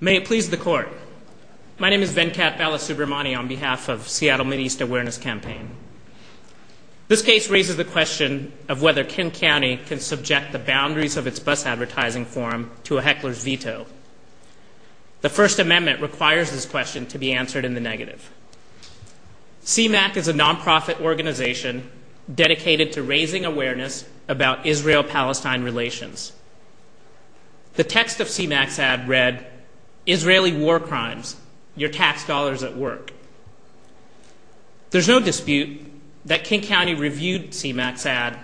May it please the court. My name is Venkat Balasubramani on behalf of Seattle Mideast Awareness Campaign. This case raises the question of whether King County can subject the boundaries of its bus advertising forum to a heckler's veto. The First Amendment requires this question to be answered in the negative. CMAQ is a nonprofit organization dedicated to raising awareness about Israel-Palestine relations. The text of CMAQ's ad read, Israeli war crimes, your tax dollars at work. There's no dispute that King County reviewed CMAQ's ad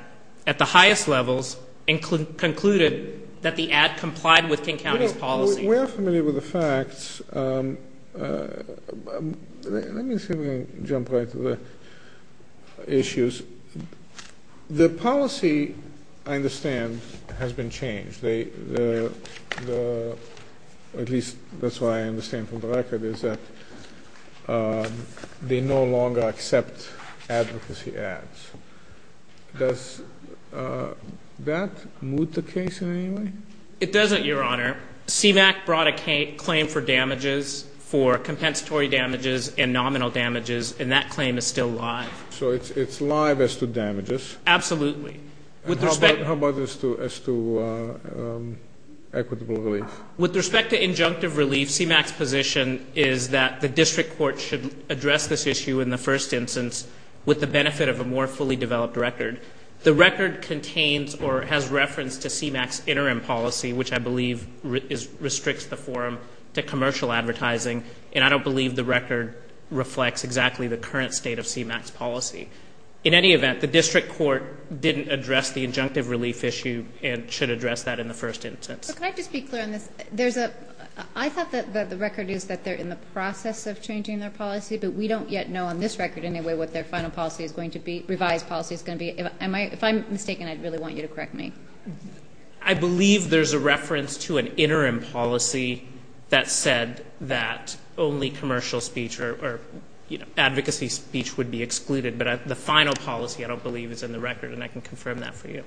at the highest levels and concluded that the ad complied with King County's policy. We're familiar with the facts. Let me jump right to the issues. The policy I understand has been changed. At least that's what I understand from the record is that they no longer accept advocacy ads. Does that move the case in any way? It doesn't, Your Honor. CMAQ brought a claim for damages, for compensatory damages and nominal damages, and that claim is still live. So it's live as to damages? Absolutely. How about as to equitable relief? With respect to injunctive relief, CMAQ's position is that the district court should address this issue in the first instance with the benefit of a more fully developed record. The record contains or has reference to CMAQ's interim policy, which I believe restricts the forum to commercial advertising, and I don't believe the record reflects exactly the current state of CMAQ's policy. In any event, the district court didn't address the injunctive relief issue and should address that in the first instance. But can I just be clear on this? I thought that the record is that they're in the process of changing their policy, but we don't yet know on this record anyway what their final policy is going to be, revised policy is going to be. If I'm mistaken, I'd really want you to correct me. I believe there's a reference to an interim policy that said that only commercial speech or advocacy speech would be excluded, but the final policy I don't believe is in the record, and I can confirm that for you.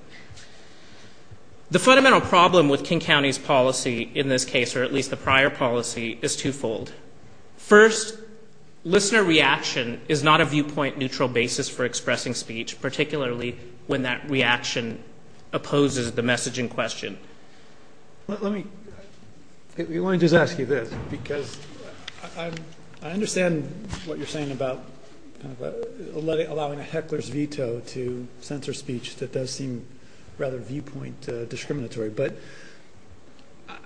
The fundamental problem with King County's policy in this case, or at least the prior policy, is twofold. First, listener reaction is not a viewpoint neutral basis for expressing speech, particularly when that reaction opposes the message in question. Let me just ask you this, because I understand what you're saying about allowing a heckler's veto to censor speech that does seem rather viewpoint discriminatory, but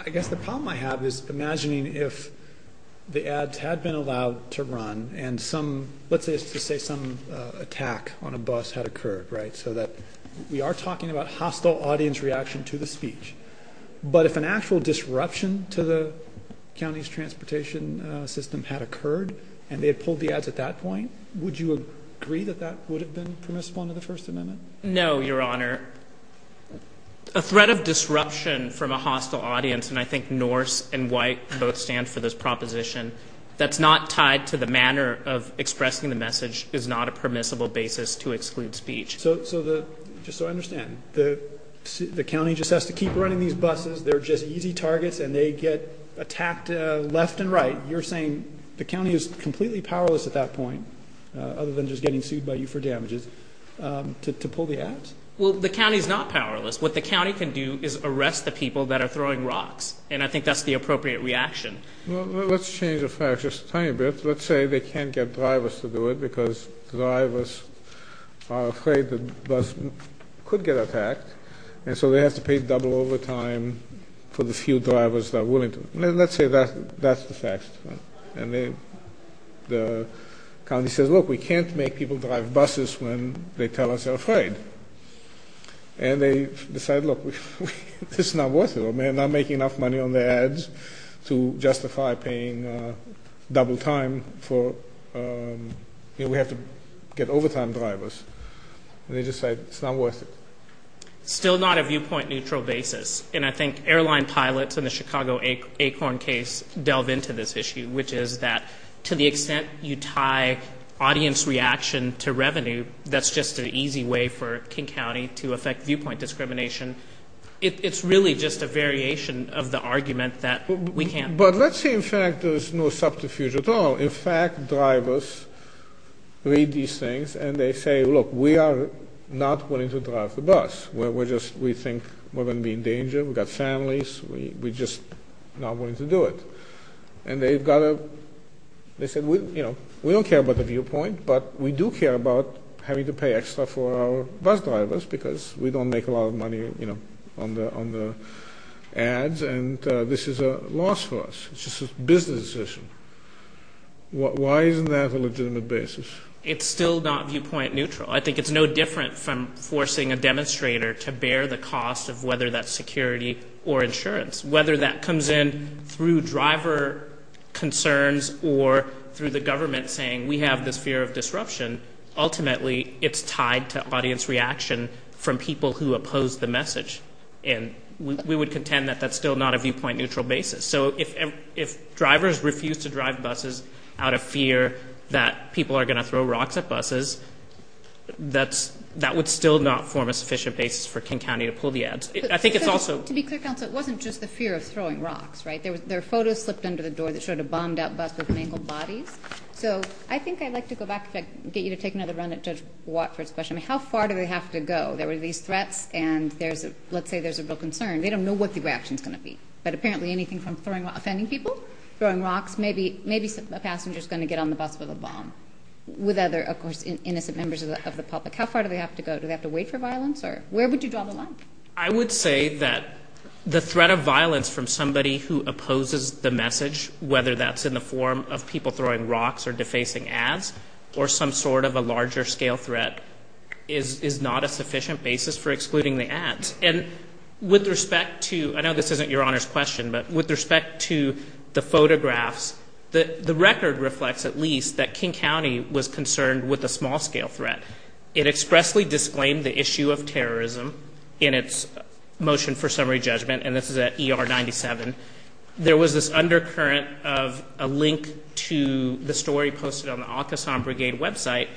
I guess the problem I have is imagining if the ads had been allowed to run and some, let's just say some attack on a bus had occurred, right, so that we are talking about hostile audience reaction to the speech, but if an actual disruption to the county's transportation system had occurred and they had pulled the ads at that point, would you agree that that would have been permissible under the First Amendment? No, Your Honor. A threat of disruption from a hostile audience, and I think Norse and white both stand for this proposition, that's not tied to the manner of expressing the message is not a permissible basis to exclude speech. So, just so I understand, the county just has to keep running these buses, they're just easy targets, and they get attacked left and right. You're saying the county is completely powerless at that point, other than just getting sued by you for damages, to pull the ads? Well, the county is not powerless. What the county can do is arrest the people that are throwing rocks, and I think that's the appropriate reaction. Well, let's change the facts just a tiny bit. Let's say they can't get drivers to do it because drivers are afraid the bus could get attacked, and so they have to pay double overtime for the few drivers that are willing to. Let's say that's the facts, and the county says, look, we can't make people drive buses when they tell us they're afraid. And they decide, look, this is not worth it. We're not making enough money on the ads to justify paying double time for, you know, we have to get overtime drivers. And they just say, it's not worth it. Still not a viewpoint-neutral basis. And I think airline pilots in the Chicago Acorn case delve into this issue, which is that to the extent you tie audience reaction to revenue, that's just an easy way for King County to affect viewpoint discrimination. It's really just a variation of the argument that we can't. But let's say, in fact, there's no subterfuge at all. In fact, drivers read these things, and they say, look, we are not willing to drive the bus. We think we're going to be in danger. We've got families. We're just not willing to do it. And they've got to, they said, you know, we don't care about the viewpoint, but we do care about having to pay extra for our bus drivers because we don't make a lot of money, you know, on the ads. And this is a loss for us. It's just a business decision. Why isn't that a legitimate basis? It's still not viewpoint-neutral. I think it's no different from forcing a demonstrator to bear the cost of whether that's security or insurance. Whether that comes in through driver concerns or through the government saying, we have this fear of disruption, ultimately, it's tied to audience reaction from people who oppose the message. And we would contend that that's still not a viewpoint-neutral basis. So if drivers refuse to drive buses out of fear that people are going to throw rocks at buses, that would still not form a sufficient basis for King County to pull the ads. I think it's also... There were photos slipped under the door that showed a bombed-out bus with mangled bodies. So I think I'd like to go back, if I can get you to take another run at Judge Watford's question. How far do they have to go? There were these threats and there's a, let's say there's a real concern. They don't know what the reaction is going to be. But apparently anything from throwing rocks, offending people, throwing rocks, maybe a passenger is going to get on the bus with a bomb. With other, of course, innocent members of the public. How far do they have to go? Do they have to wait for violence? Or where would you draw the line? I would say that the threat of violence from somebody who opposes the message, whether that's in the form of people throwing rocks or defacing ads, or some sort of a larger scale threat, is not a sufficient basis for excluding the ads. And with respect to, I know this isn't Your Honor's question, but with respect to the photographs, the record reflects at least that King County was concerned with a small scale threat. It expressly disclaimed the issue of terrorism in its motion for summary judgment, and this is at ER 97. There was this undercurrent of a link to the story posted on the Arkansas Brigade website,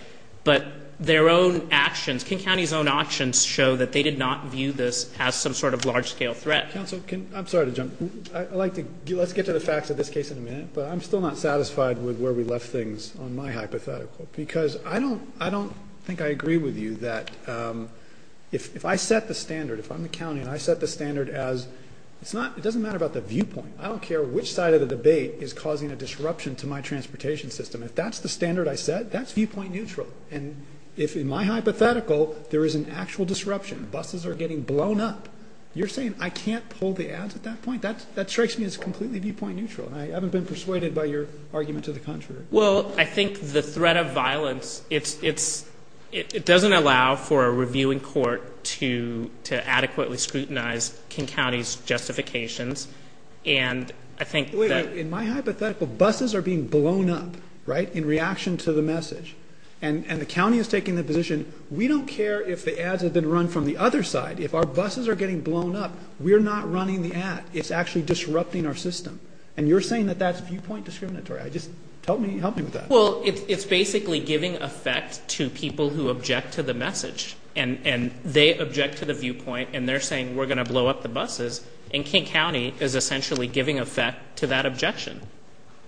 but their own actions, King County's own actions show that they did not view this as some sort of large scale threat. Counsel, can, I'm sorry to jump, I'd like to, let's get to the facts of this case in a minute, but I'm still not satisfied with where we left things on my hypothetical, because I don't, I don't think I agree with you that if I set the standard, if I'm the county and I set the standard as, it's not, it doesn't matter about the viewpoint. I don't care which side of the debate is causing a disruption to my transportation system. If that's the standard I set, that's viewpoint neutral. And if in my hypothetical, there is an actual disruption, buses are getting blown up, you're saying I can't pull the ads at that point? That strikes me as completely viewpoint neutral, and I haven't been persuaded by your argument to the contrary. Well, I think the threat of violence, it's, it's, it doesn't allow for a reviewing court to, to adequately scrutinize King County's justifications, and I think that... In my hypothetical, buses are being blown up, right, in reaction to the message. And, and the county is taking the position, we don't care if the ads have been run from the other side. If our buses are getting blown up, we're not running the ad. It's actually disrupting our system. And you're saying that that's viewpoint discriminatory. I just, tell me, help me with that. Well, it's, it's basically giving effect to people who object to the message. And, and they object to the viewpoint, and they're saying we're going to blow up the buses. And King County is essentially giving effect to that objection.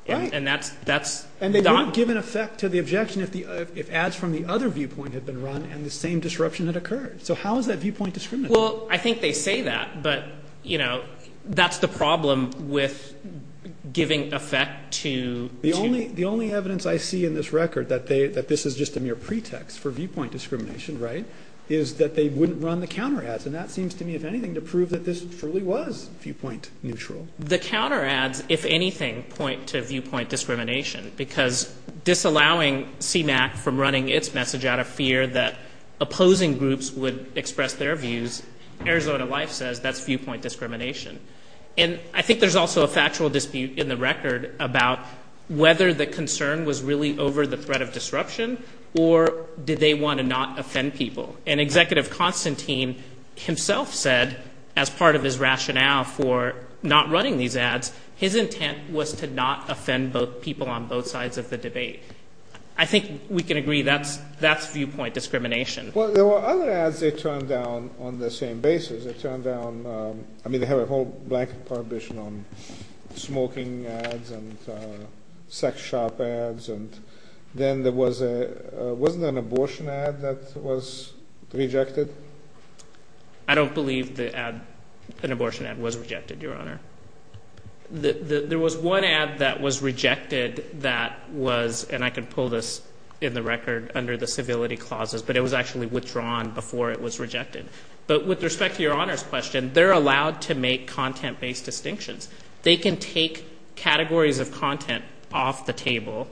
Right. And that's, that's... And they wouldn't give an effect to the objection if the, if ads from the other viewpoint had been run, and the same disruption had occurred. So how is that viewpoint discriminatory? Well, I think they say that, but, you know, that's the problem with giving effect to... The only, the only evidence I see in this record that they, that this is just a mere pretext for viewpoint discrimination, right, is that they wouldn't run the counter ads. And that seems to me, if anything, to prove that this truly was viewpoint neutral. The counter ads, if anything, point to viewpoint discrimination. Because disallowing CMAQ from running its message out of fear that opposing groups would express their views, Arizona Life says that's viewpoint discrimination. And I think there's also a factual dispute in the record about whether the concern was really over the threat of disruption, or did they want to not offend people? And Executive Constantine himself said, as part of his rationale for not running these ads, his intent was to not offend people on both sides of the debate. I think we can agree that's, that's viewpoint discrimination. Well, there were other ads they turned down on the same basis. They turned down, I mean, they have a whole blanket prohibition on smoking ads and sex shop ads. And then there was a, wasn't it an abortion ad that was rejected? I don't believe the ad, an abortion ad was rejected, Your Honor. There was one ad that was rejected that was, and I can pull this in the record under the civility clauses, but it was actually withdrawn before it was rejected. But with respect to Your Honor's question, they're allowed to make content-based distinctions. They can take categories of content off the table,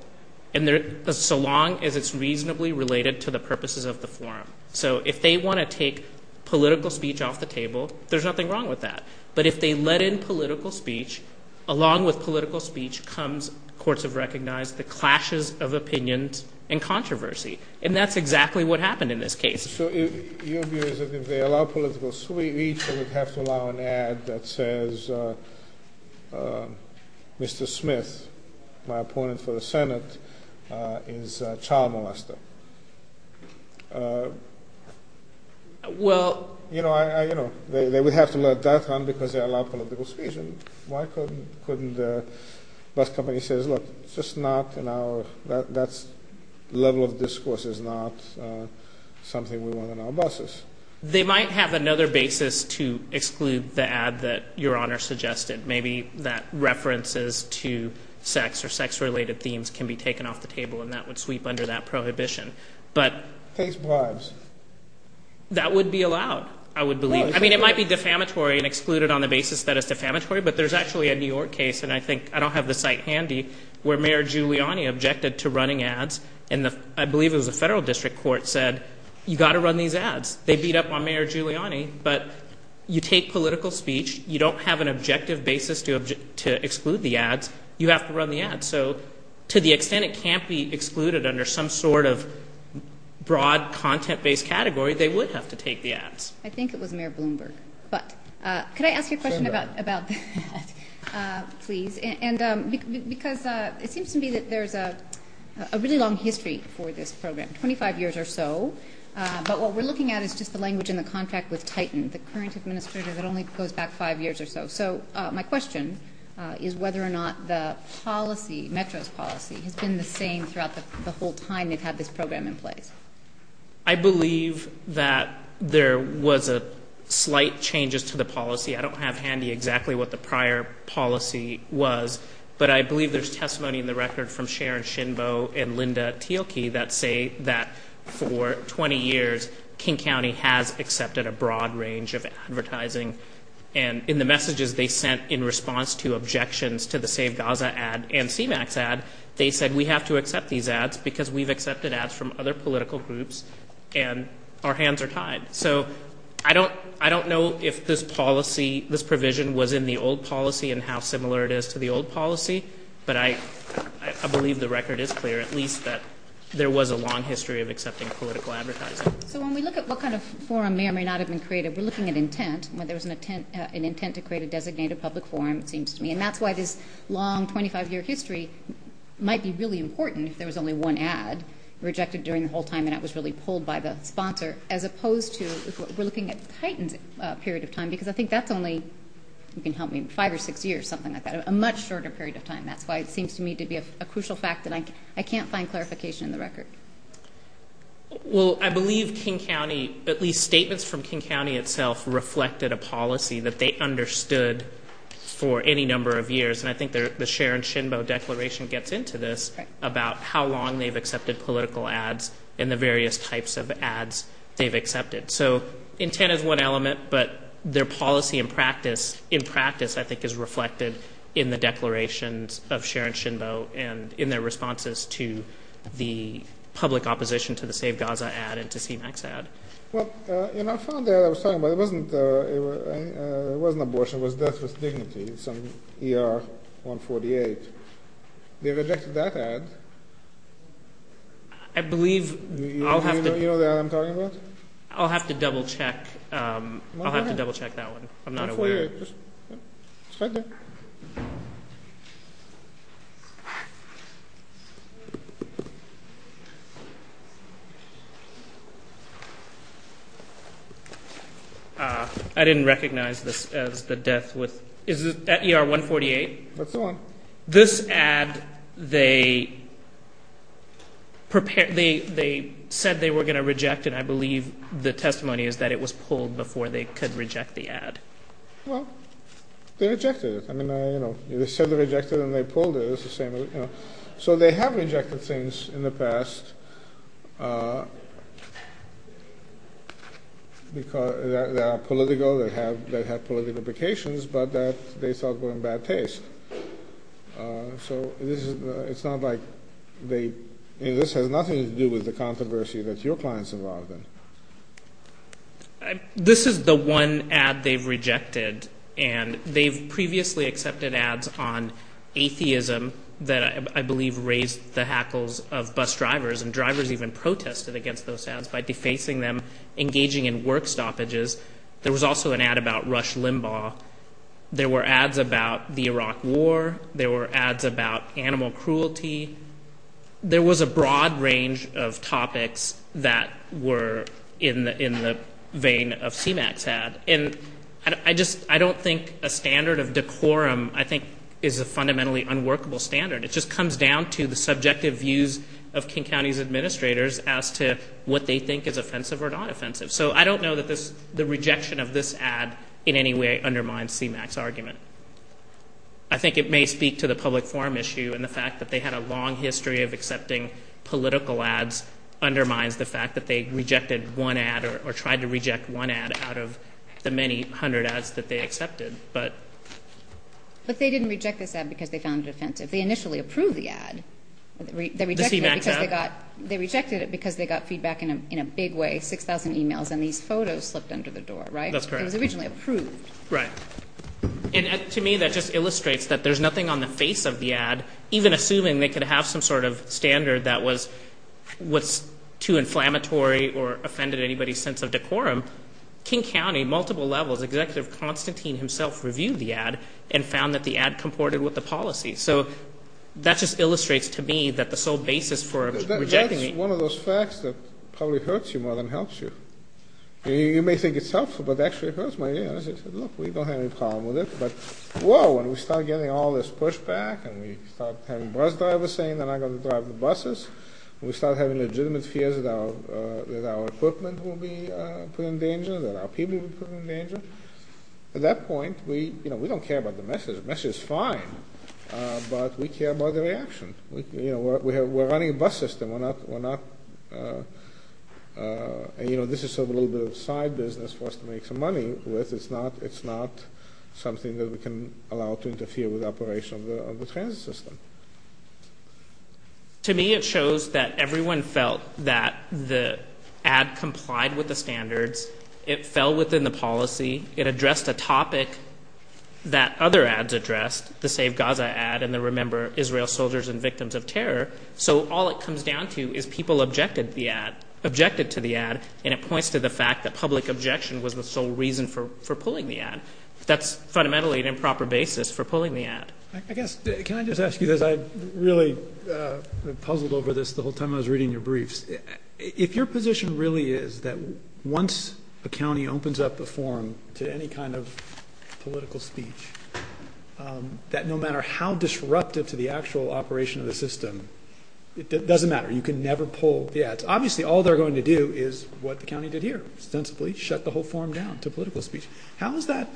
and they're, so long as it's reasonably related to the purposes of the forum. So, if they want to take political speech off the table, there's nothing wrong with that. But if they let in political speech, along with political speech comes, courts have recognized, the clashes of opinions and controversy. And that's exactly what happened in this case. So, your view is that if they allow political speech, they would have to allow an ad that says, Mr. Smith, my opponent for the Senate, is a child molester. Well, You know, I, you know, they would have to let that run because they allow political speech. And why couldn't the bus company says, look, it's just not in our, that's level of discourse is not something we want on our buses. They might have another basis to exclude the ad that Your Honor suggested. Maybe that references to sex or sex related themes can be taken off the table, and that would sweep under that prohibition. But, Case bribes. That would be allowed, I would believe. I mean, it might be defamatory and excluded on the basis that it's defamatory, but there's actually a New Giuliani objected to running ads, and I believe it was a federal district court said, you got to run these ads. They beat up on Mayor Giuliani, but you take political speech, you don't have an objective basis to exclude the ads, you have to run the ads. So, to the extent it can't be excluded under some sort of broad content based category, they would have to take the ads. I think it was Mayor Bloomberg, but could I ask you a question about that, please? And because it seems to me that there's a really long history for this program, 25 years or so, but what we're looking at is just the language in the contract with Titan, the current administrator that only goes back five years or so. So, my question is whether or not the policy, Metro's policy, has been the same throughout the whole time they've had this program in place. I believe that there was a slight changes to the policy. I don't have handy exactly what the testimony in the record from Sharon Shinbo and Linda Teoki that say that for 20 years, King County has accepted a broad range of advertising, and in the messages they sent in response to objections to the Save Gaza ad and CMAX ad, they said, we have to accept these ads because we've accepted ads from other political groups, and our hands are tied. So, I don't know if this policy, this provision was in the old policy and how similar it is to the old policy, but I believe the record is clear, at least, that there was a long history of accepting political advertising. So, when we look at what kind of forum may or may not have been created, we're looking at intent, whether there was an intent to create a designated public forum, it seems to me, and that's why this long 25-year history might be really important if there was only one ad rejected during the whole time and that was really pulled by the sponsor, as opposed to, we're looking at Titan's period of time, because I think that's only, you can help me, five or six years, something like that, a much shorter period of time. That's why it seems to me to be a crucial fact that I can't find clarification in the record. Well, I believe King County, at least statements from King County itself, reflected a policy that they understood for any number of years, and I think the Sharon Shinbo Declaration gets into this about how long they've accepted political ads and the various types of ads they've accepted. So, intent is one element, but their policy and practice, in practice, I think, is reflected in the declarations of Sharon Shinbo and in their responses to the public opposition to the Save Gaza ad and to CMAX ad. Well, you know, I found the ad I was talking about, it wasn't abortion, it was death with dignity, some ER 148. They rejected that ad. I believe I'll have to... You know the ad I'm talking about? I'll have to double check. I'll have to double check that one. I'm not aware. It's right there. I didn't recognize this as the death with... Is it ER 148? That's the one. This ad they said they were going to reject, and I believe the testimony is that it was pulled before they could reject the ad. Well, they rejected it. I mean, you know, they said they rejected it and they pulled it. So they have rejected things in the past that are political, that have political implications, but that they thought were in bad taste. So it's not like they... This has nothing to do with the controversy that your client is involved in. This is the one ad they've rejected, and they've previously accepted ads on atheism that I believe raised the hackles of bus drivers, and drivers even protested against those ads by defacing them, engaging in work stoppages. There was also an ad about Rush Limbaugh. There were ads about the Iraq War. There were ads about animal cruelty. There was a broad range of topics that were in the vein of CMAQ's ad. And I don't think a standard of decorum, I think, is a fundamentally unworkable standard. It just comes down to the subjective views of King County's administrators as to what they think is offensive or not offensive. So I don't know that the rejection of this ad in any way undermines CMAQ's argument. I think it may speak to the public forum issue, and the fact that they had a long history of accepting political ads undermines the fact that they rejected one ad or tried to reject one ad out of the many hundred ads that they accepted. But... But they didn't reject this ad because they found it offensive. They initially approved the ad. The CMAQ ad? They rejected it because they got feedback in a big way, 6,000 emails, and these photos slipped under the door, right? That's correct. It was originally approved. Right. And to me, that just illustrates that there's nothing on the face of the ad, even assuming they could have some sort of standard that was too inflammatory or offended anybody's sense of decorum. King County, multiple levels, Executive Constantine himself reviewed the ad and found that the ad comported with the policy. So that just illustrates to me that the sole basis for rejecting... That's one of those facts that probably hurts you more than helps you. You may think it's helpful, but actually it hurts my ears. I said, look, we don't have any problem with it. But, whoa, and we start getting all this pushback and we start having bus drivers saying they're not going to drive the buses. We start having legitimate fears that our equipment will be put in danger, that our people will be put in danger. At that point, we don't care about the message. The message is fine, but we care about the reaction. We're running a bus system. We're not... This is a little bit of side business for us to make some money with. It's not something that we can allow to interfere with the operation of the transit system. To me it shows that everyone felt that the ad complied with the standards. It fell within the policy. It addressed a topic that other ads addressed, the Save Gaza ad and the Remember Israel Soldiers and Victims of Terror. So all it comes down to is people objected to the ad, and it points to the fact that public objection was the sole reason for pulling the ad. That's fundamentally an improper basis for pulling the ad. I guess, can I just ask you this? I really puzzled over this the whole time I was reading your briefs. If your position really is that once a county opens up a forum to any kind of political speech, that no matter how disruptive to the actual operation of the system, it doesn't matter. You can never pull the ads. Obviously all they're going to do is what the county did here, ostensibly shut the whole forum down to political speech. How is that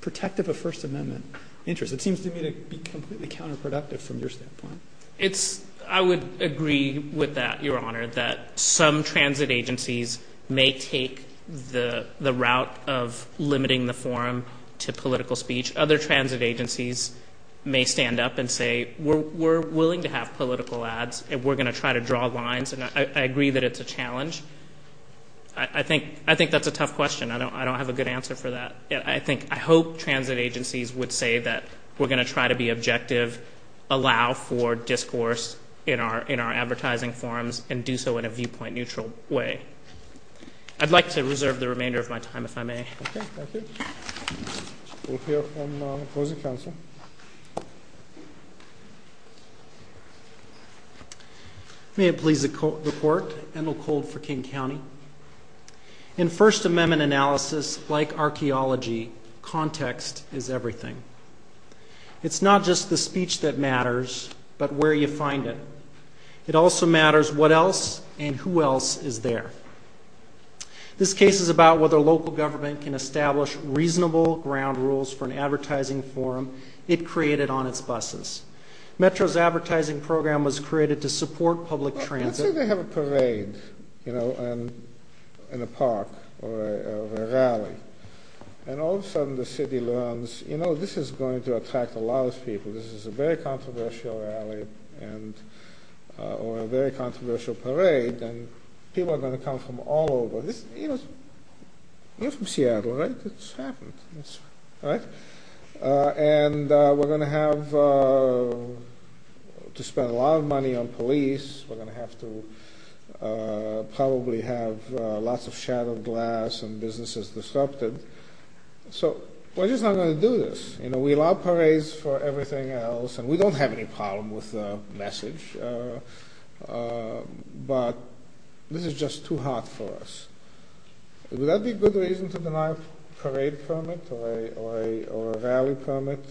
protective of First Amendment interests? It seems to me to be completely counterproductive from your standpoint. I would agree with that, Your Honor, that some transit agencies may take the route of limiting the forum to political speech. Other transit agencies may stand up and say, we're willing to have political ads and we're going to try to draw lines, and I agree that it's a challenge. I think that's a tough question. I don't have a good answer for that. I hope transit agencies would say that we're going to try to be objective, allow for discourse in our advertising forums, and do so in a viewpoint-neutral way. I'd like to reserve the remainder of my time, if I may. Okay, thank you. We'll hear from the opposing counsel. May it please the Court, Endell Cold for King County. In First Amendment analysis, like archaeology, context is everything. It's not just the speech that matters, but where you find it. It also matters what else and who else is there. This case is about whether local government can establish reasonable ground rules for an advertising forum it created on its buses. Metro's advertising program was created to support public transit. Let's say they have a parade in a park or a rally, and all of a sudden the city learns, you know, this is going to attract a lot of people. This is a very controversial rally or a very controversial parade, and people are going to come from all over. You're from Seattle, right? It's happened. And we're going to have to spend a lot of money on police. We're going to have to probably have lots of shattered glass and businesses disrupted. So we're just not going to do this. We allow parades for everything else, and we don't have any problem with the message, but this is just too hot for us. Would that be a good reason to deny a parade permit or a rally permit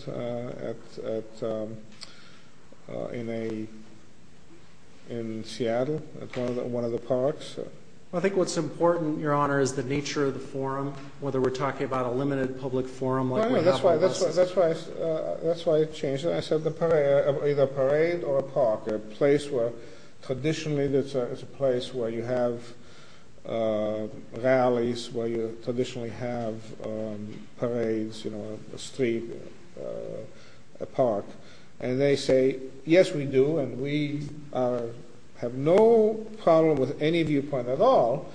in Seattle, at one of the parks? I think what's important, Your Honor, is the nature of the forum, whether we're talking about a limited public forum like we have on buses. That's why I changed it. I said either a parade or a park, a place where traditionally it's a place where you have rallies, where you traditionally have parades, you know, a street, a park. And they say, yes, we do, and we have no problem with any viewpoint at all,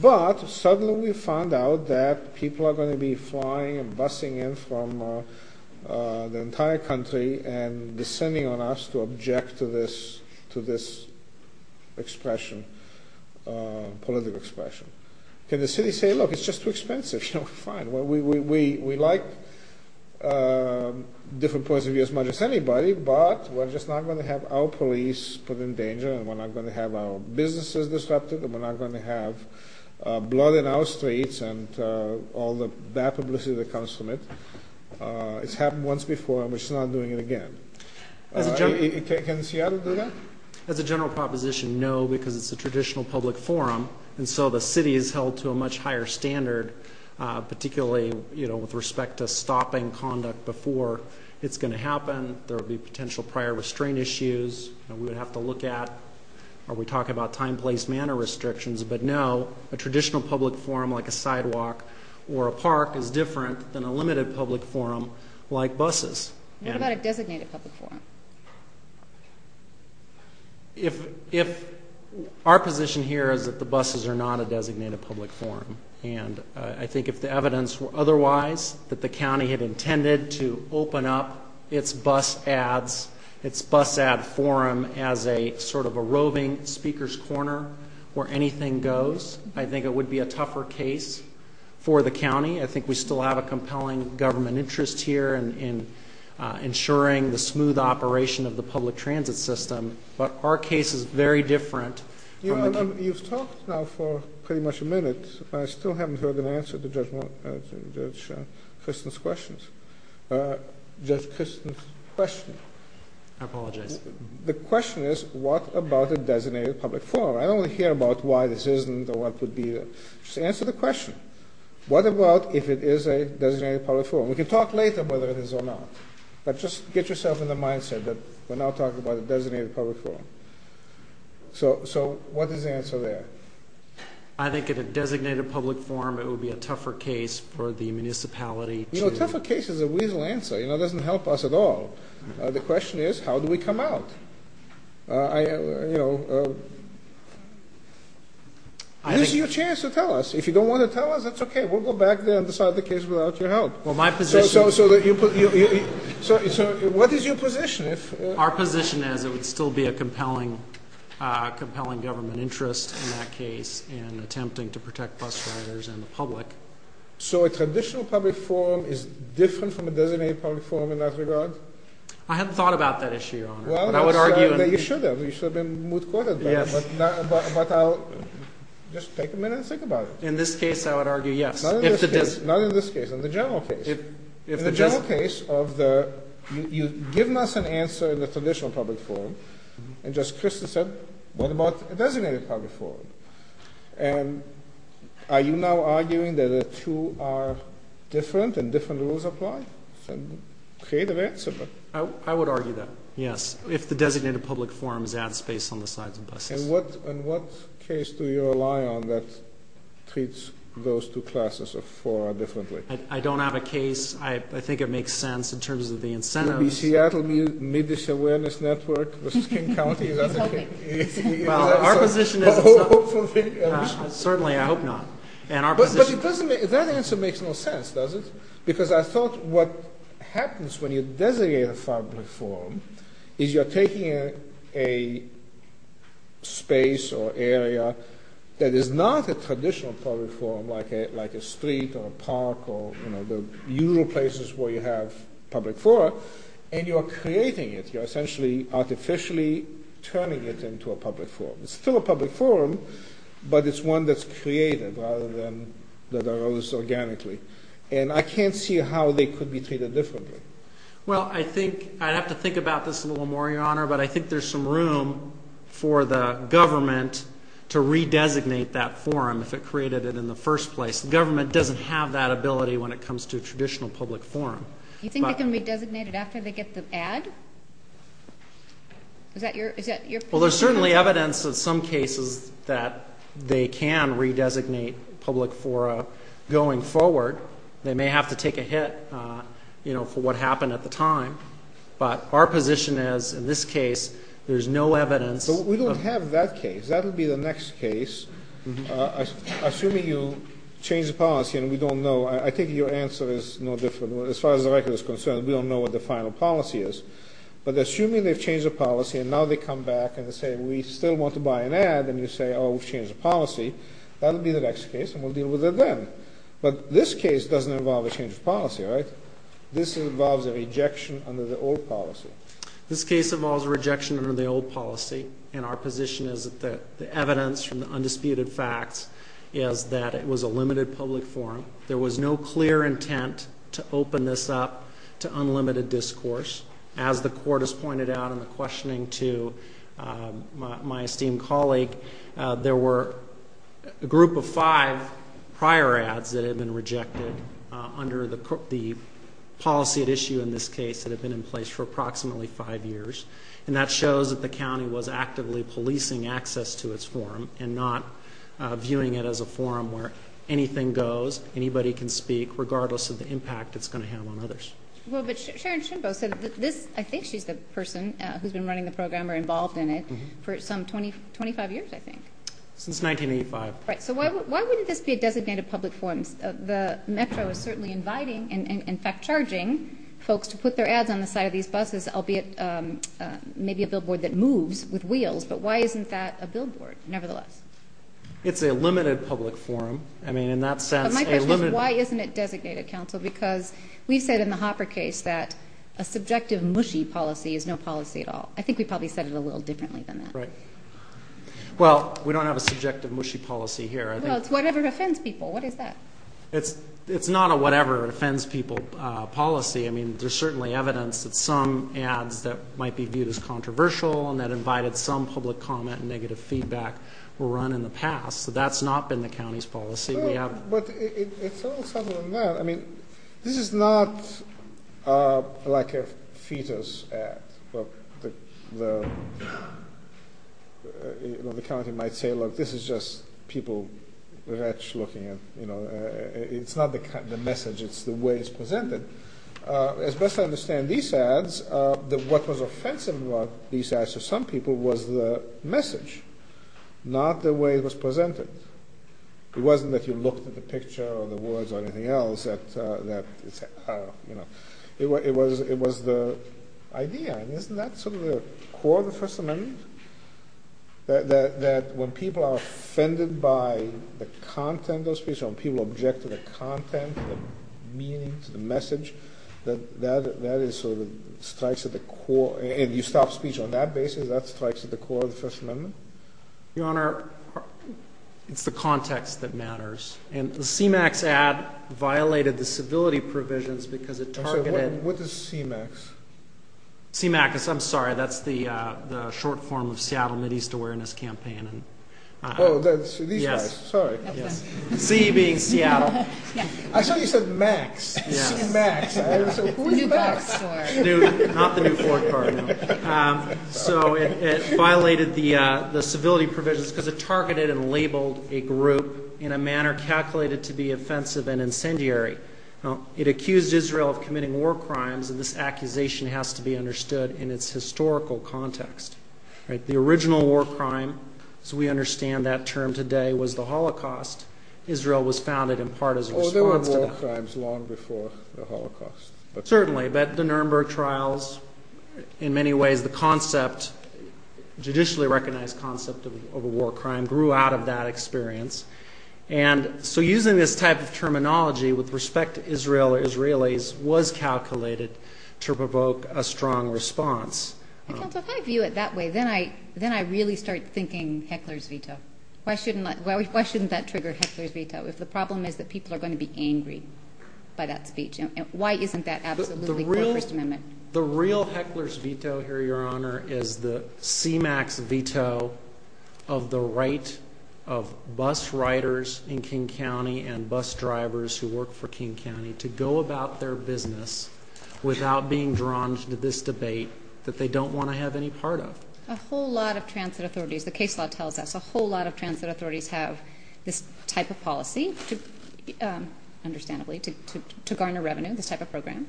but suddenly we found out that people are going to be flying and busing in from the entire country and descending on us to object to this expression, political expression. Can the city say, look, it's just too expensive? You know, fine, we like different points of view as much as anybody, but we're just not going to have our police put in danger, and we're not going to have our businesses disrupted, and we're not going to have blood in our streets and all the bad publicity that comes from it. It's happened once before, and we're just not doing it again. Can Seattle do that? As a general proposition, no, because it's a traditional public forum, and so the city is held to a much higher standard, particularly, you know, with respect to stopping conduct before it's going to happen. There will be potential prior restraint issues, and we would have to look at, are we talking about time, place, manner restrictions? But no, a traditional public forum like a sidewalk or a park is different than a limited public forum like buses. What about a designated public forum? If our position here is that the buses are not a designated public forum, and I think if the evidence were otherwise, that the county had intended to open up its bus ads, its bus ad forum as a sort of a roving speaker's corner where anything goes, I think it would be a tougher case for the county. I think we still have a compelling government interest here in ensuring the smooth operation of the public transit system, but our case is very different. You've talked now for pretty much a minute, but I still haven't heard an answer to Judge Kristen's questions. Judge Kristen's question. I apologize. The question is, what about a designated public forum? I don't want to hear about why this isn't or what could be there. Just answer the question. What about if it is a designated public forum? We can talk later whether it is or not, but just get yourself in the mindset that we're now talking about a designated public forum. So what is the answer there? I think in a designated public forum, it would be a tougher case for the municipality to A tougher case is a weasel answer. It doesn't help us at all. The question is, how do we come out? This is your chance to tell us. If you don't want to tell us, that's okay. We'll go back there and decide the case without your help. So what is your position? Our position is it would still be a compelling government interest in that case in attempting to protect bus riders and the public. So a traditional public forum is different from a designated public forum in that regard? I haven't thought about that issue, Your Honor. Well, you should have. You should have been moot courted. But I'll just take a minute and think about it. In this case, I would argue yes. Not in this case. Not in this case. In the general case. In the general case of the, you've given us an answer in the traditional public forum, and just christened said, what about a designated public forum? And are you now arguing that the two are different and different rules apply? It's a creative answer. I would argue that, yes, if the designated public forum is at a space on the sides of buses. And what case do you rely on that treats those two classes of fora differently? I don't have a case. I think it makes sense in terms of the incentives. Could it be Seattle Middish Awareness Network versus King County? He's hoping. Well, our position is certainly I hope not. But that answer makes no sense, does it? Because I thought what happens when you designate a public forum is you're taking a space or area that is not a traditional public forum like a street or a park or the usual places where you have public fora, and you're creating it. You're essentially artificially turning it into a public forum. It's still a public forum, but it's one that's created rather than that arose organically. And I can't see how they could be treated differently. Well, I think I'd have to think about this a little more, Your Honor, but I think there's some room for the government to redesignate that forum if it created it in the first place. The government doesn't have that ability when it comes to a traditional public forum. You think it can be designated after they get the ad? Is that your position? Well, there's certainly evidence in some cases that they can redesignate public fora going forward. They may have to take a hit, you know, for what happened at the time. But our position is in this case there's no evidence. But we don't have that case. That would be the next case. Assuming you change the policy and we don't know, I think your answer is no different. As far as the record is concerned, we don't know what the final policy is. But assuming they've changed the policy and now they come back and say, we still want to buy an ad, and you say, oh, we've changed the policy, that would be the next case and we'll deal with it then. But this case doesn't involve a change of policy, right? This involves a rejection under the old policy. This case involves a rejection under the old policy, and our position is that the evidence from the undisputed facts is that it was a limited public forum. There was no clear intent to open this up to unlimited discourse. As the Court has pointed out in the questioning to my esteemed colleague, there were a group of five prior ads that had been rejected under the policy at issue in this case that had been in place for approximately five years. And that shows that the county was actively policing access to its forum and not viewing it as a forum where anything goes, anybody can speak, regardless of the impact it's going to have on others. Well, but Sharon Schimbo said that this, I think she's the person who's been running the program or involved in it for some 25 years, I think. Since 1985. Right. So why wouldn't this be a designated public forum? The Metro is certainly inviting and, in fact, charging folks to put their ads on the side of these buses, albeit maybe a billboard that moves with wheels. But why isn't that a billboard, nevertheless? It's a limited public forum. I mean, in that sense, a limited. But my question is, why isn't it designated, counsel? Because we've said in the Hopper case that a subjective, mushy policy is no policy at all. I think we probably said it a little differently than that. Right. Well, we don't have a subjective, mushy policy here. Well, it's whatever offends people. What is that? It's not a whatever offends people policy. I mean, there's certainly evidence that some ads that might be viewed as controversial and that invited some public comment and negative feedback were run in the past. So that's not been the county's policy. But it's a little subtler than that. I mean, this is not like a fetus ad. The county might say, look, this is just people looking at, you know, it's not the message. It's the way it's presented. As best I understand these ads, what was offensive about these ads to some people was the message, not the way it was presented. It wasn't that you looked at the picture or the words or anything else that, you know. It was the idea. And isn't that sort of the core of the First Amendment? That when people are offended by the content of a speech, when people object to the content, to the meaning, to the message, that that is sort of strikes at the core. And you stop speech on that basis. That strikes at the core of the First Amendment. Your Honor, it's the context that matters. And the CMAX ad violated the civility provisions because it targeted. I'm sorry. What is CMAX? CMAX is, I'm sorry, that's the short form of Seattle Mid-East Awareness Campaign. Oh, these guys. Sorry. Yes. C being Seattle. I thought you said Max. Yes. CMAX. Who is Max? Not the new Ford car, no. So it violated the civility provisions because it targeted and labeled a group in a manner calculated to be offensive and incendiary. It accused Israel of committing war crimes, and this accusation has to be understood in its historical context. The original war crime, as we understand that term today, was the Holocaust. Israel was founded in part as a response to that. Oh, there were war crimes long before the Holocaust. Certainly. But the Nuremberg trials, in many ways the concept, judicially recognized concept of a war crime, grew out of that experience. And so using this type of terminology with respect to Israel or Israelis was calculated to provoke a strong response. Counsel, if I view it that way, then I really start thinking heckler's veto. Why shouldn't that trigger heckler's veto if the problem is that people are going to be angry by that speech? Why isn't that absolutely the First Amendment? The real heckler's veto here, Your Honor, is the CMAX veto of the right of bus riders in King County and bus drivers who work for King County to go about their business without being drawn to this debate that they don't want to have any part of. A whole lot of transit authorities, the case law tells us a whole lot of transit authorities have this type of policy, understandably, to garner revenue, this type of program,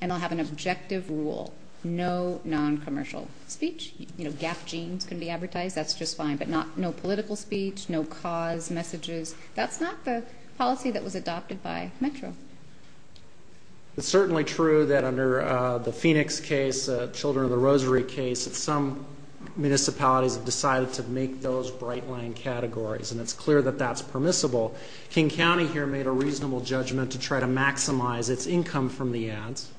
and they'll have an objective rule. No noncommercial speech. Gap jeans can be advertised. That's just fine. But no political speech, no cause messages. That's not the policy that was adopted by Metro. It's certainly true that under the Phoenix case, the Children of the Rosary case, some municipalities have decided to make those bright-line categories, and it's clear that that's permissible. King County here made a reasonable judgment to try to maximize its income from the ads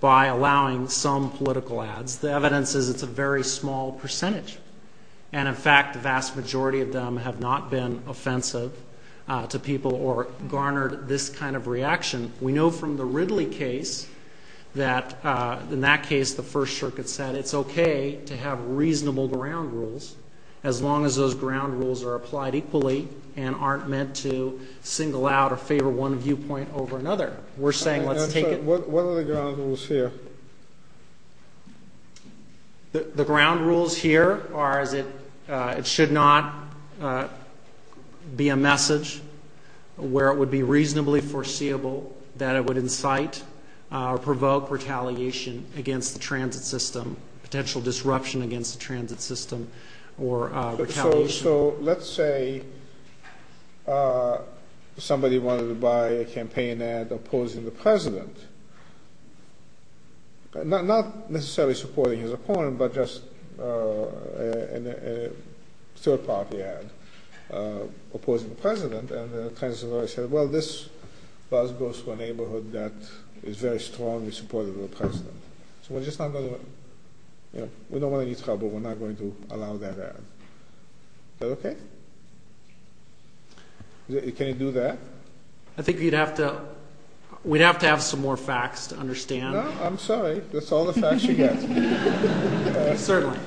by allowing some political ads. The evidence is it's a very small percentage. And, in fact, the vast majority of them have not been offensive to people or garnered this kind of reaction. We know from the Ridley case that in that case the First Circuit said it's okay to have reasonable ground rules as long as those ground rules are applied equally and aren't meant to single out or favor one viewpoint over another. We're saying let's take it. What are the ground rules here? The ground rules here are it should not be a message where it would be reasonably foreseeable that it would incite or provoke retaliation against the transit system, potential disruption against the transit system or retaliation. So let's say somebody wanted to buy a campaign ad opposing the president, not necessarily supporting his opponent, but just a third-party ad opposing the president. And the transit authority said, well, this bus goes to a neighborhood that is very strongly supportive of the president. So we're just not going to – we don't want any trouble. We're not going to allow that ad. Is that okay? Can you do that? I think you'd have to – we'd have to have some more facts to understand. No, I'm sorry. That's all the facts you get. Certainly.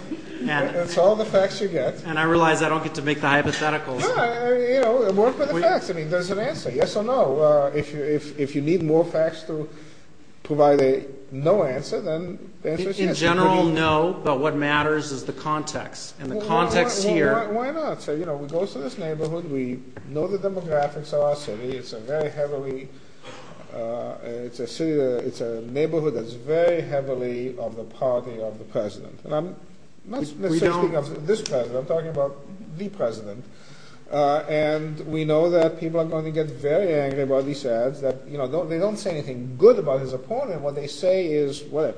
That's all the facts you get. And I realize I don't get to make the hypotheticals. Yeah, you know, work with the facts. I mean, there's an answer, yes or no. If you need more facts to provide a no answer, then the answer is yes. In general, no, but what matters is the context, and the context here – Why not? So, you know, we go to this neighborhood. We know the demographics of our city. It's a very heavily – it's a city that – it's a neighborhood that's very heavily of the party of the president. And I'm not necessarily speaking of this president. I'm talking about the president. And we know that people are going to get very angry about these ads. They don't say anything good about his opponent. What they say is what a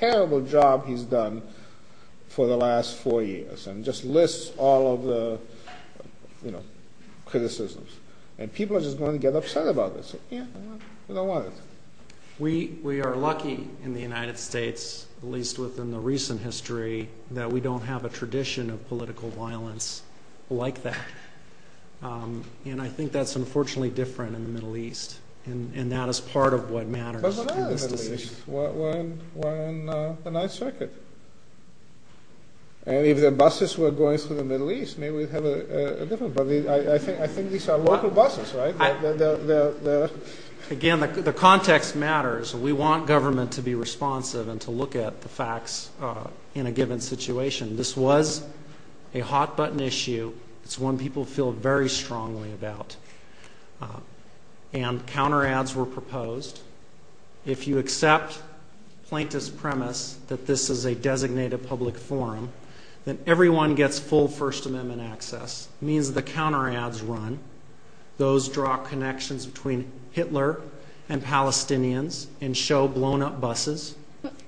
terrible job he's done for the last four years, and just lists all of the criticisms. And people are just going to get upset about this. We don't want it. We are lucky in the United States, at least within the recent history, that we don't have a tradition of political violence like that. And I think that's unfortunately different in the Middle East. And that is part of what matters in this decision. But what are the Middle East? We're in the 9th Circuit. And if the buses were going through the Middle East, maybe we'd have a different problem. I think these are local buses, right? Again, the context matters. We want government to be responsive and to look at the facts in a given situation. This was a hot-button issue. It's one people feel very strongly about. And counter ads were proposed. If you accept plaintiff's premise that this is a designated public forum, then everyone gets full First Amendment access. It means the counter ads run. Those draw connections between Hitler and Palestinians and show blown-up buses.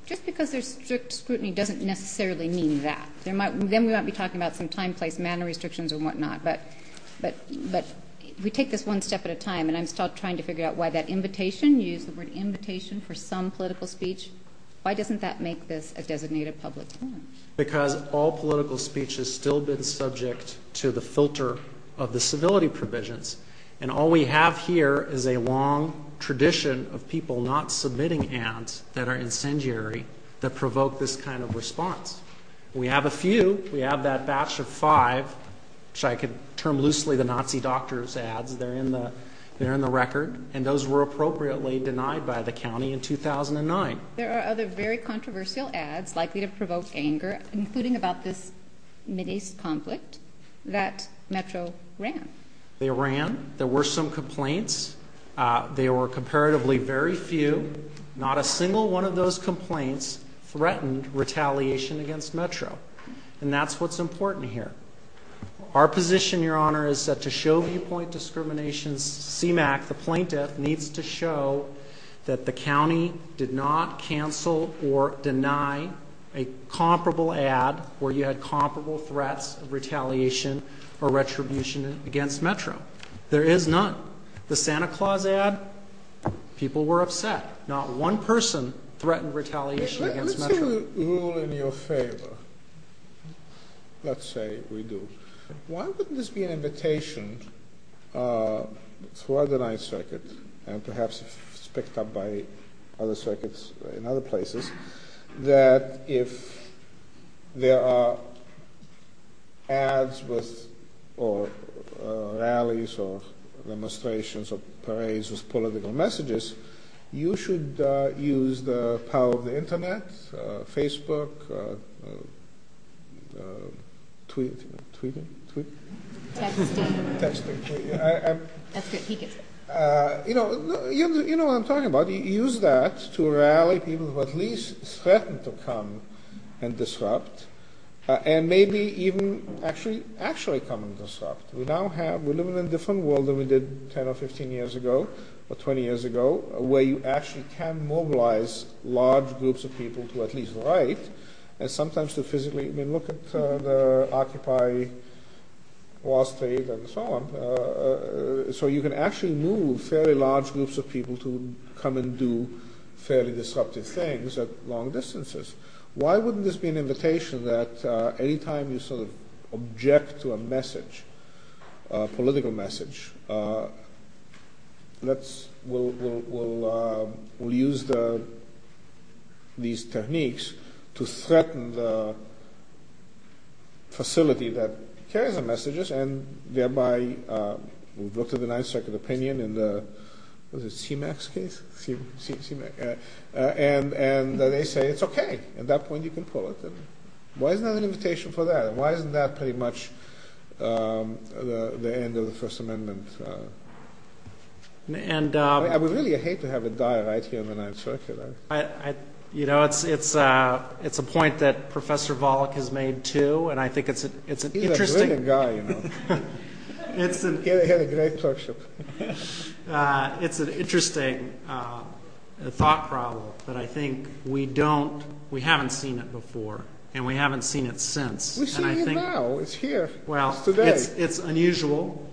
Just because there's strict scrutiny doesn't necessarily mean that. Then we might be talking about some time, place, manner restrictions and whatnot. But if we take this one step at a time, and I'm still trying to figure out why that invitation, you used the word invitation for some political speech, why doesn't that make this a designated public forum? Because all political speech has still been subject to the filter of the civility provisions. And all we have here is a long tradition of people not submitting ads that are incendiary, that provoke this kind of response. We have a few. We have that batch of five, which I could term loosely the Nazi doctors' ads. They're in the record. And those were appropriately denied by the county in 2009. There are other very controversial ads likely to provoke anger, including about this Mideast conflict that Metro ran. They ran. There were some complaints. They were comparatively very few. Not a single one of those complaints threatened retaliation against Metro. And that's what's important here. Our position, Your Honor, is that to show viewpoint discrimination, the plaintiff needs to show that the county did not cancel or deny a comparable ad where you had comparable threats of retaliation or retribution against Metro. There is none. The Santa Claus ad, people were upset. Not one person threatened retaliation against Metro. Let's do a rule in your favor. Let's say we do. Why wouldn't this be an invitation throughout the Ninth Circuit, and perhaps it's picked up by other circuits in other places, that if there are ads or rallies or demonstrations or parades with political messages, you should use the power of the Internet, Facebook, tweeting. Texting. Texting. That's good. He gets it. You know what I'm talking about. Use that to rally people who at least threatened to come and disrupt, and maybe even actually come and disrupt. We're living in a different world than we did 10 or 15 years ago or 20 years ago, where you actually can mobilize large groups of people to at least write and sometimes to physically look at the Occupy Wall Street and so on. So you can actually move fairly large groups of people to come and do fairly disruptive things at long distances. Why wouldn't this be an invitation that any time you sort of object to a message, a political message, we'll use these techniques to threaten the facility that carries the messages, and thereby we've looked at the Ninth Circuit opinion in the CMAX case, and they say it's okay. At that point you can pull it. Why isn't that an invitation for that? Why isn't that pretty much the end of the First Amendment? I would really hate to have it die right here in the Ninth Circuit. You know, it's a point that Professor Volokh has made too, and I think it's an interesting— He's a brilliant guy, you know. He had a great clerkship. It's an interesting thought problem, but I think we haven't seen it before, and we haven't seen it since. We've seen it now. It's here. It's today. Well, it's unusual,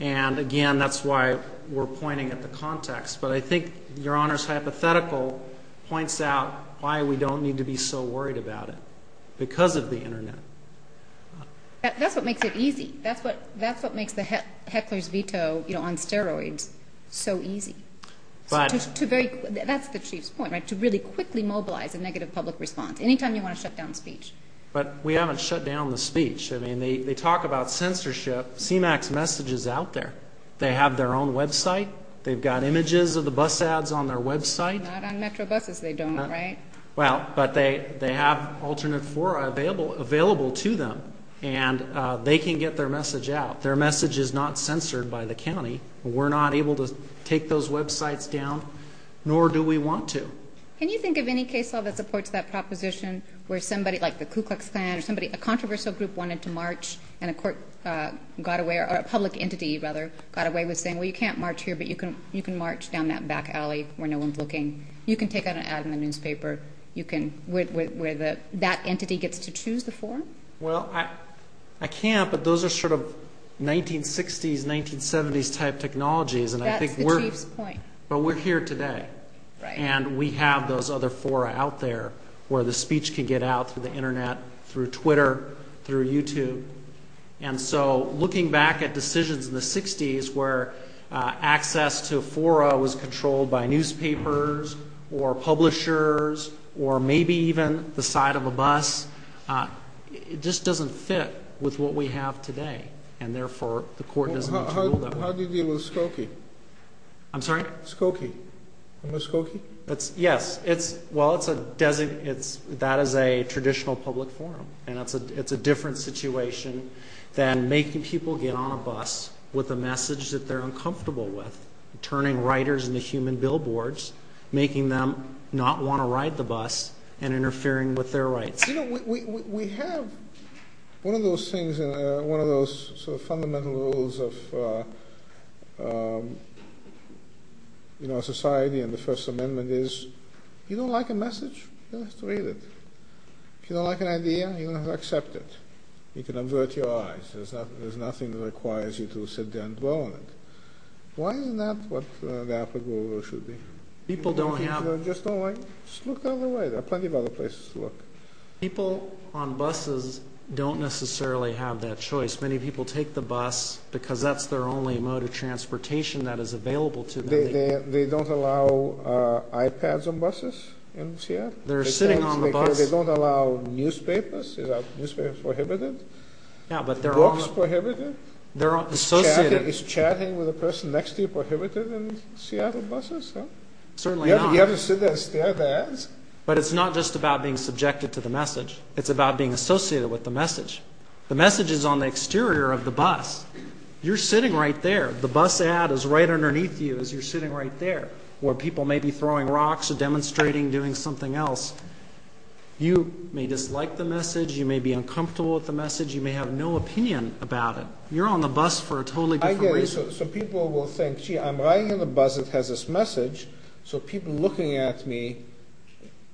and, again, that's why we're pointing at the context. But I think Your Honor's hypothetical points out why we don't need to be so worried about it, because of the Internet. That's what makes it easy. That's what makes the heckler's veto on steroids so easy. That's the Chief's point, right, to really quickly mobilize a negative public response. Anytime you want to shut down speech. But we haven't shut down the speech. I mean, they talk about censorship. CMAX message is out there. They have their own website. They've got images of the bus ads on their website. Not on Metro buses they don't, right? Well, but they have alternate fora available to them, and they can get their message out. Their message is not censored by the county. We're not able to take those websites down, nor do we want to. Can you think of any case law that supports that proposition where somebody, like the Ku Klux Klan, or somebody, a controversial group wanted to march, and a court got away, or a public entity, rather, got away with saying, well, you can't march here, but you can march down that back alley where no one's looking. You can take out an ad in the newspaper where that entity gets to choose the forum? Well, I can't, but those are sort of 1960s, 1970s-type technologies. That's the Chief's point. But we're here today, and we have those other fora out there where the speech can get out through the Internet, through Twitter, through YouTube. And so looking back at decisions in the 60s where access to fora was controlled by newspapers or publishers or maybe even the side of a bus, it just doesn't fit with what we have today, and therefore the court doesn't have to rule that way. How do you deal with Skokie? I'm sorry? Skokie. You know Skokie? Yes. Well, that is a traditional public forum, and it's a different situation than making people get on a bus with a message that they're uncomfortable with, turning writers into human billboards, making them not want to ride the bus, and interfering with their rights. You know, we have one of those things, one of those sort of fundamental rules of society and the First Amendment is if you don't like a message, you don't have to read it. If you don't like an idea, you don't have to accept it. You can avert your eyes. There's nothing that requires you to sit there and dwell on it. Why isn't that what the applicable rule should be? People don't have... Just look the other way. There are plenty of other places to look. People on buses don't necessarily have that choice. Many people take the bus because that's their only mode of transportation that is available to them. They don't allow iPads on buses in Seattle? They're sitting on the bus. They don't allow newspapers? Are newspapers prohibited? Books prohibited? Is chatting with the person next to you prohibited in Seattle buses? Certainly not. You have to sit there and stare at the ads? But it's not just about being subjected to the message. It's about being associated with the message. The message is on the exterior of the bus. You're sitting right there. The bus ad is right underneath you as you're sitting right there where people may be throwing rocks or demonstrating, doing something else. You may dislike the message. You may be uncomfortable with the message. You may have no opinion about it. You're on the bus for a totally different reason. So people will think, gee, I'm riding in a bus that has this message, so people looking at me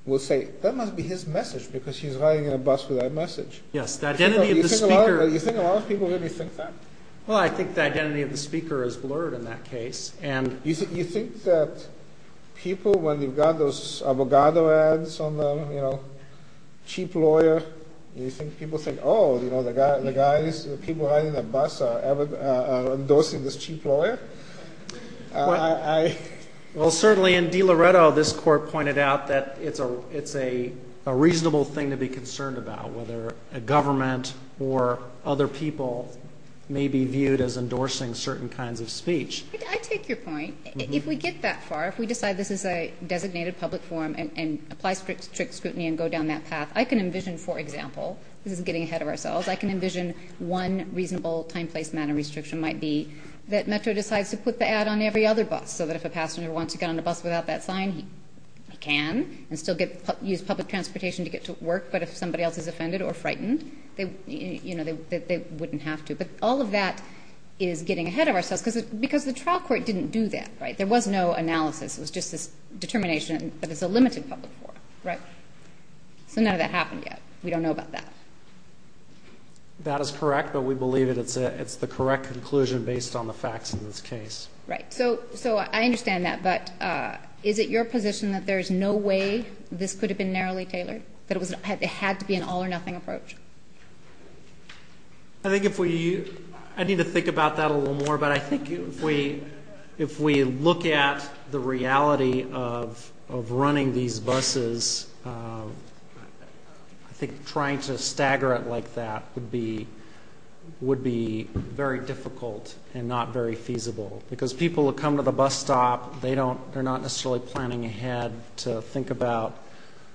will say, that must be his message because he's riding in a bus with that message. Yes. Do you think a lot of people really think that? Well, I think the identity of the speaker is blurred in that case. You think that people, when they've got those Avogadro ads on them, you know, cheap lawyer, you think people think, oh, you know, the guys, the people riding the bus are endorsing this cheap lawyer? Well, certainly in DiLoretto, this court pointed out that it's a reasonable thing to be concerned about, whether a government or other people may be viewed as endorsing certain kinds of speech. I take your point. If we get that far, if we decide this is a designated public forum and apply strict scrutiny and go down that path, I can envision, for example, this is getting ahead of ourselves, I can envision one reasonable time, place, manner restriction might be that Metro decides to put the ad on every other bus so that if a passenger wants to get on the bus without that sign, he can and still use public transportation to get to work. But if somebody else is offended or frightened, you know, they wouldn't have to. But all of that is getting ahead of ourselves because the trial court didn't do that, right? There was no analysis. It was just this determination that it's a limited public forum, right? So none of that happened yet. We don't know about that. That is correct, but we believe it's the correct conclusion based on the facts in this case. Right. So I understand that, but is it your position that there is no way this could have been narrowly tailored, that it had to be an all-or-nothing approach? I think if we ñ I need to think about that a little more, but I think if we look at the reality of running these buses, I think trying to stagger it like that would be very difficult and not very feasible because people who come to the bus stop, they're not necessarily planning ahead to think about,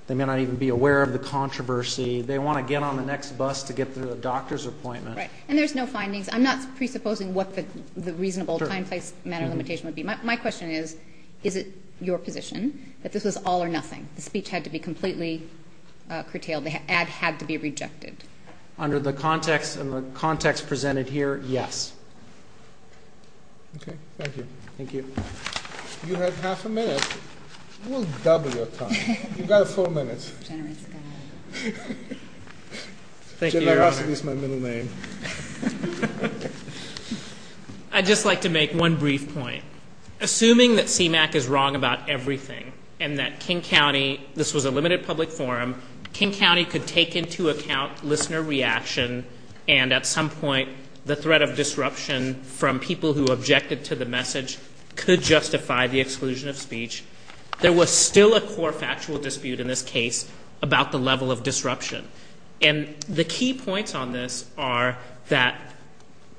they may not even be aware of the controversy. They want to get on the next bus to get to the doctor's appointment. Right, and there's no findings. I'm not presupposing what the reasonable time, place, manner, limitation would be. My question is, is it your position that this was all-or-nothing? The speech had to be completely curtailed. The ad had to be rejected. Under the context presented here, yes. Okay. Thank you. Thank you. You had half a minute. We'll double your time. You've got four minutes. Generosity is my middle name. I'd just like to make one brief point. Assuming that CMAQ is wrong about everything and that King County, this was a limited public forum, King County could take into account listener reaction and at some point the threat of disruption from people who objected to the message could justify the exclusion of speech. There was still a core factual dispute in this case about the level of disruption. And the key points on this are that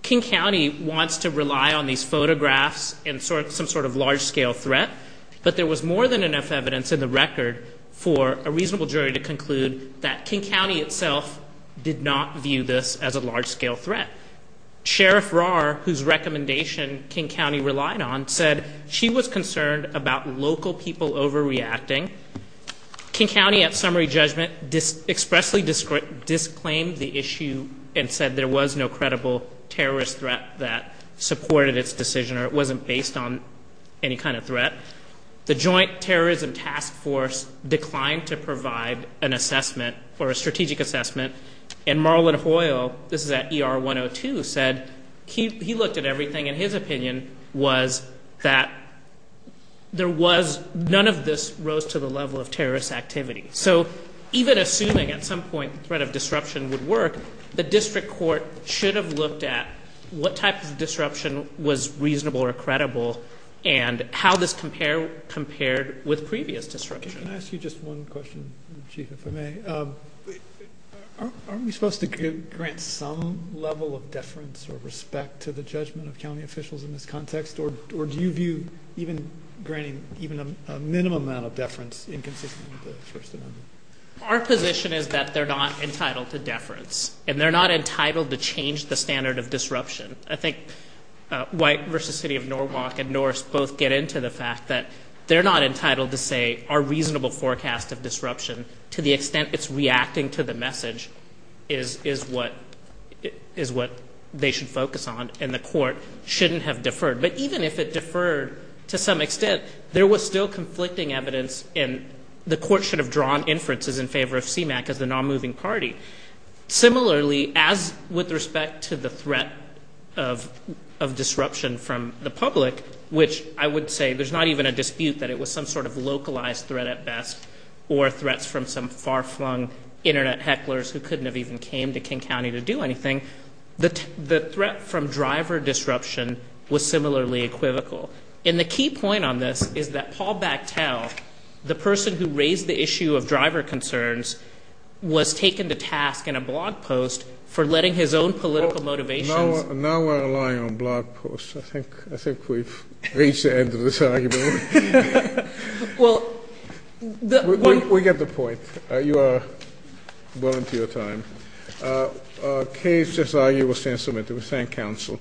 King County wants to rely on these photographs and some sort of large-scale threat, but there was more than enough evidence in the record for a reasonable jury to conclude that King County itself did not view this as a large-scale threat. Sheriff Rahr, whose recommendation King County relied on, said she was concerned about local people overreacting. King County at summary judgment expressly disclaimed the issue and said there was no credible terrorist threat that supported its decision or it wasn't based on any kind of threat. The Joint Terrorism Task Force declined to provide an assessment or a strategic assessment. And Marlon Hoyle, this is at ER 102, said he looked at everything and his opinion was that none of this rose to the level of terrorist activity. So even assuming at some point the threat of disruption would work, the district court should have looked at what type of disruption was reasonable or credible and how this compared with previous disruption. Can I ask you just one question, Chief, if I may? Aren't we supposed to grant some level of deference or respect to the judgment of county officials in this context, or do you view even granting even a minimum amount of deference inconsistent with the First Amendment? Our position is that they're not entitled to deference, and they're not entitled to change the standard of disruption. I think White v. City of Norwalk and Norris both get into the fact that they're not entitled to say, our reasonable forecast of disruption, to the extent it's reacting to the message, is what they should focus on, and the court shouldn't have deferred. But even if it deferred to some extent, there was still conflicting evidence and the court should have drawn inferences in favor of CMAQ as the nonmoving party. Similarly, as with respect to the threat of disruption from the public, which I would say there's not even a dispute that it was some sort of localized threat at best or threats from some far-flung Internet hecklers who couldn't have even came to King County to do anything, the threat from driver disruption was similarly equivocal. And the key point on this is that Paul Bactell, the person who raised the issue of driver concerns, was taken to task in a blog post for letting his own political motivations Now we're relying on blog posts. I think we've reached the end of this argument. We get the point. You are well into your time. The case, as argued, will stand submitted. We thank counsel.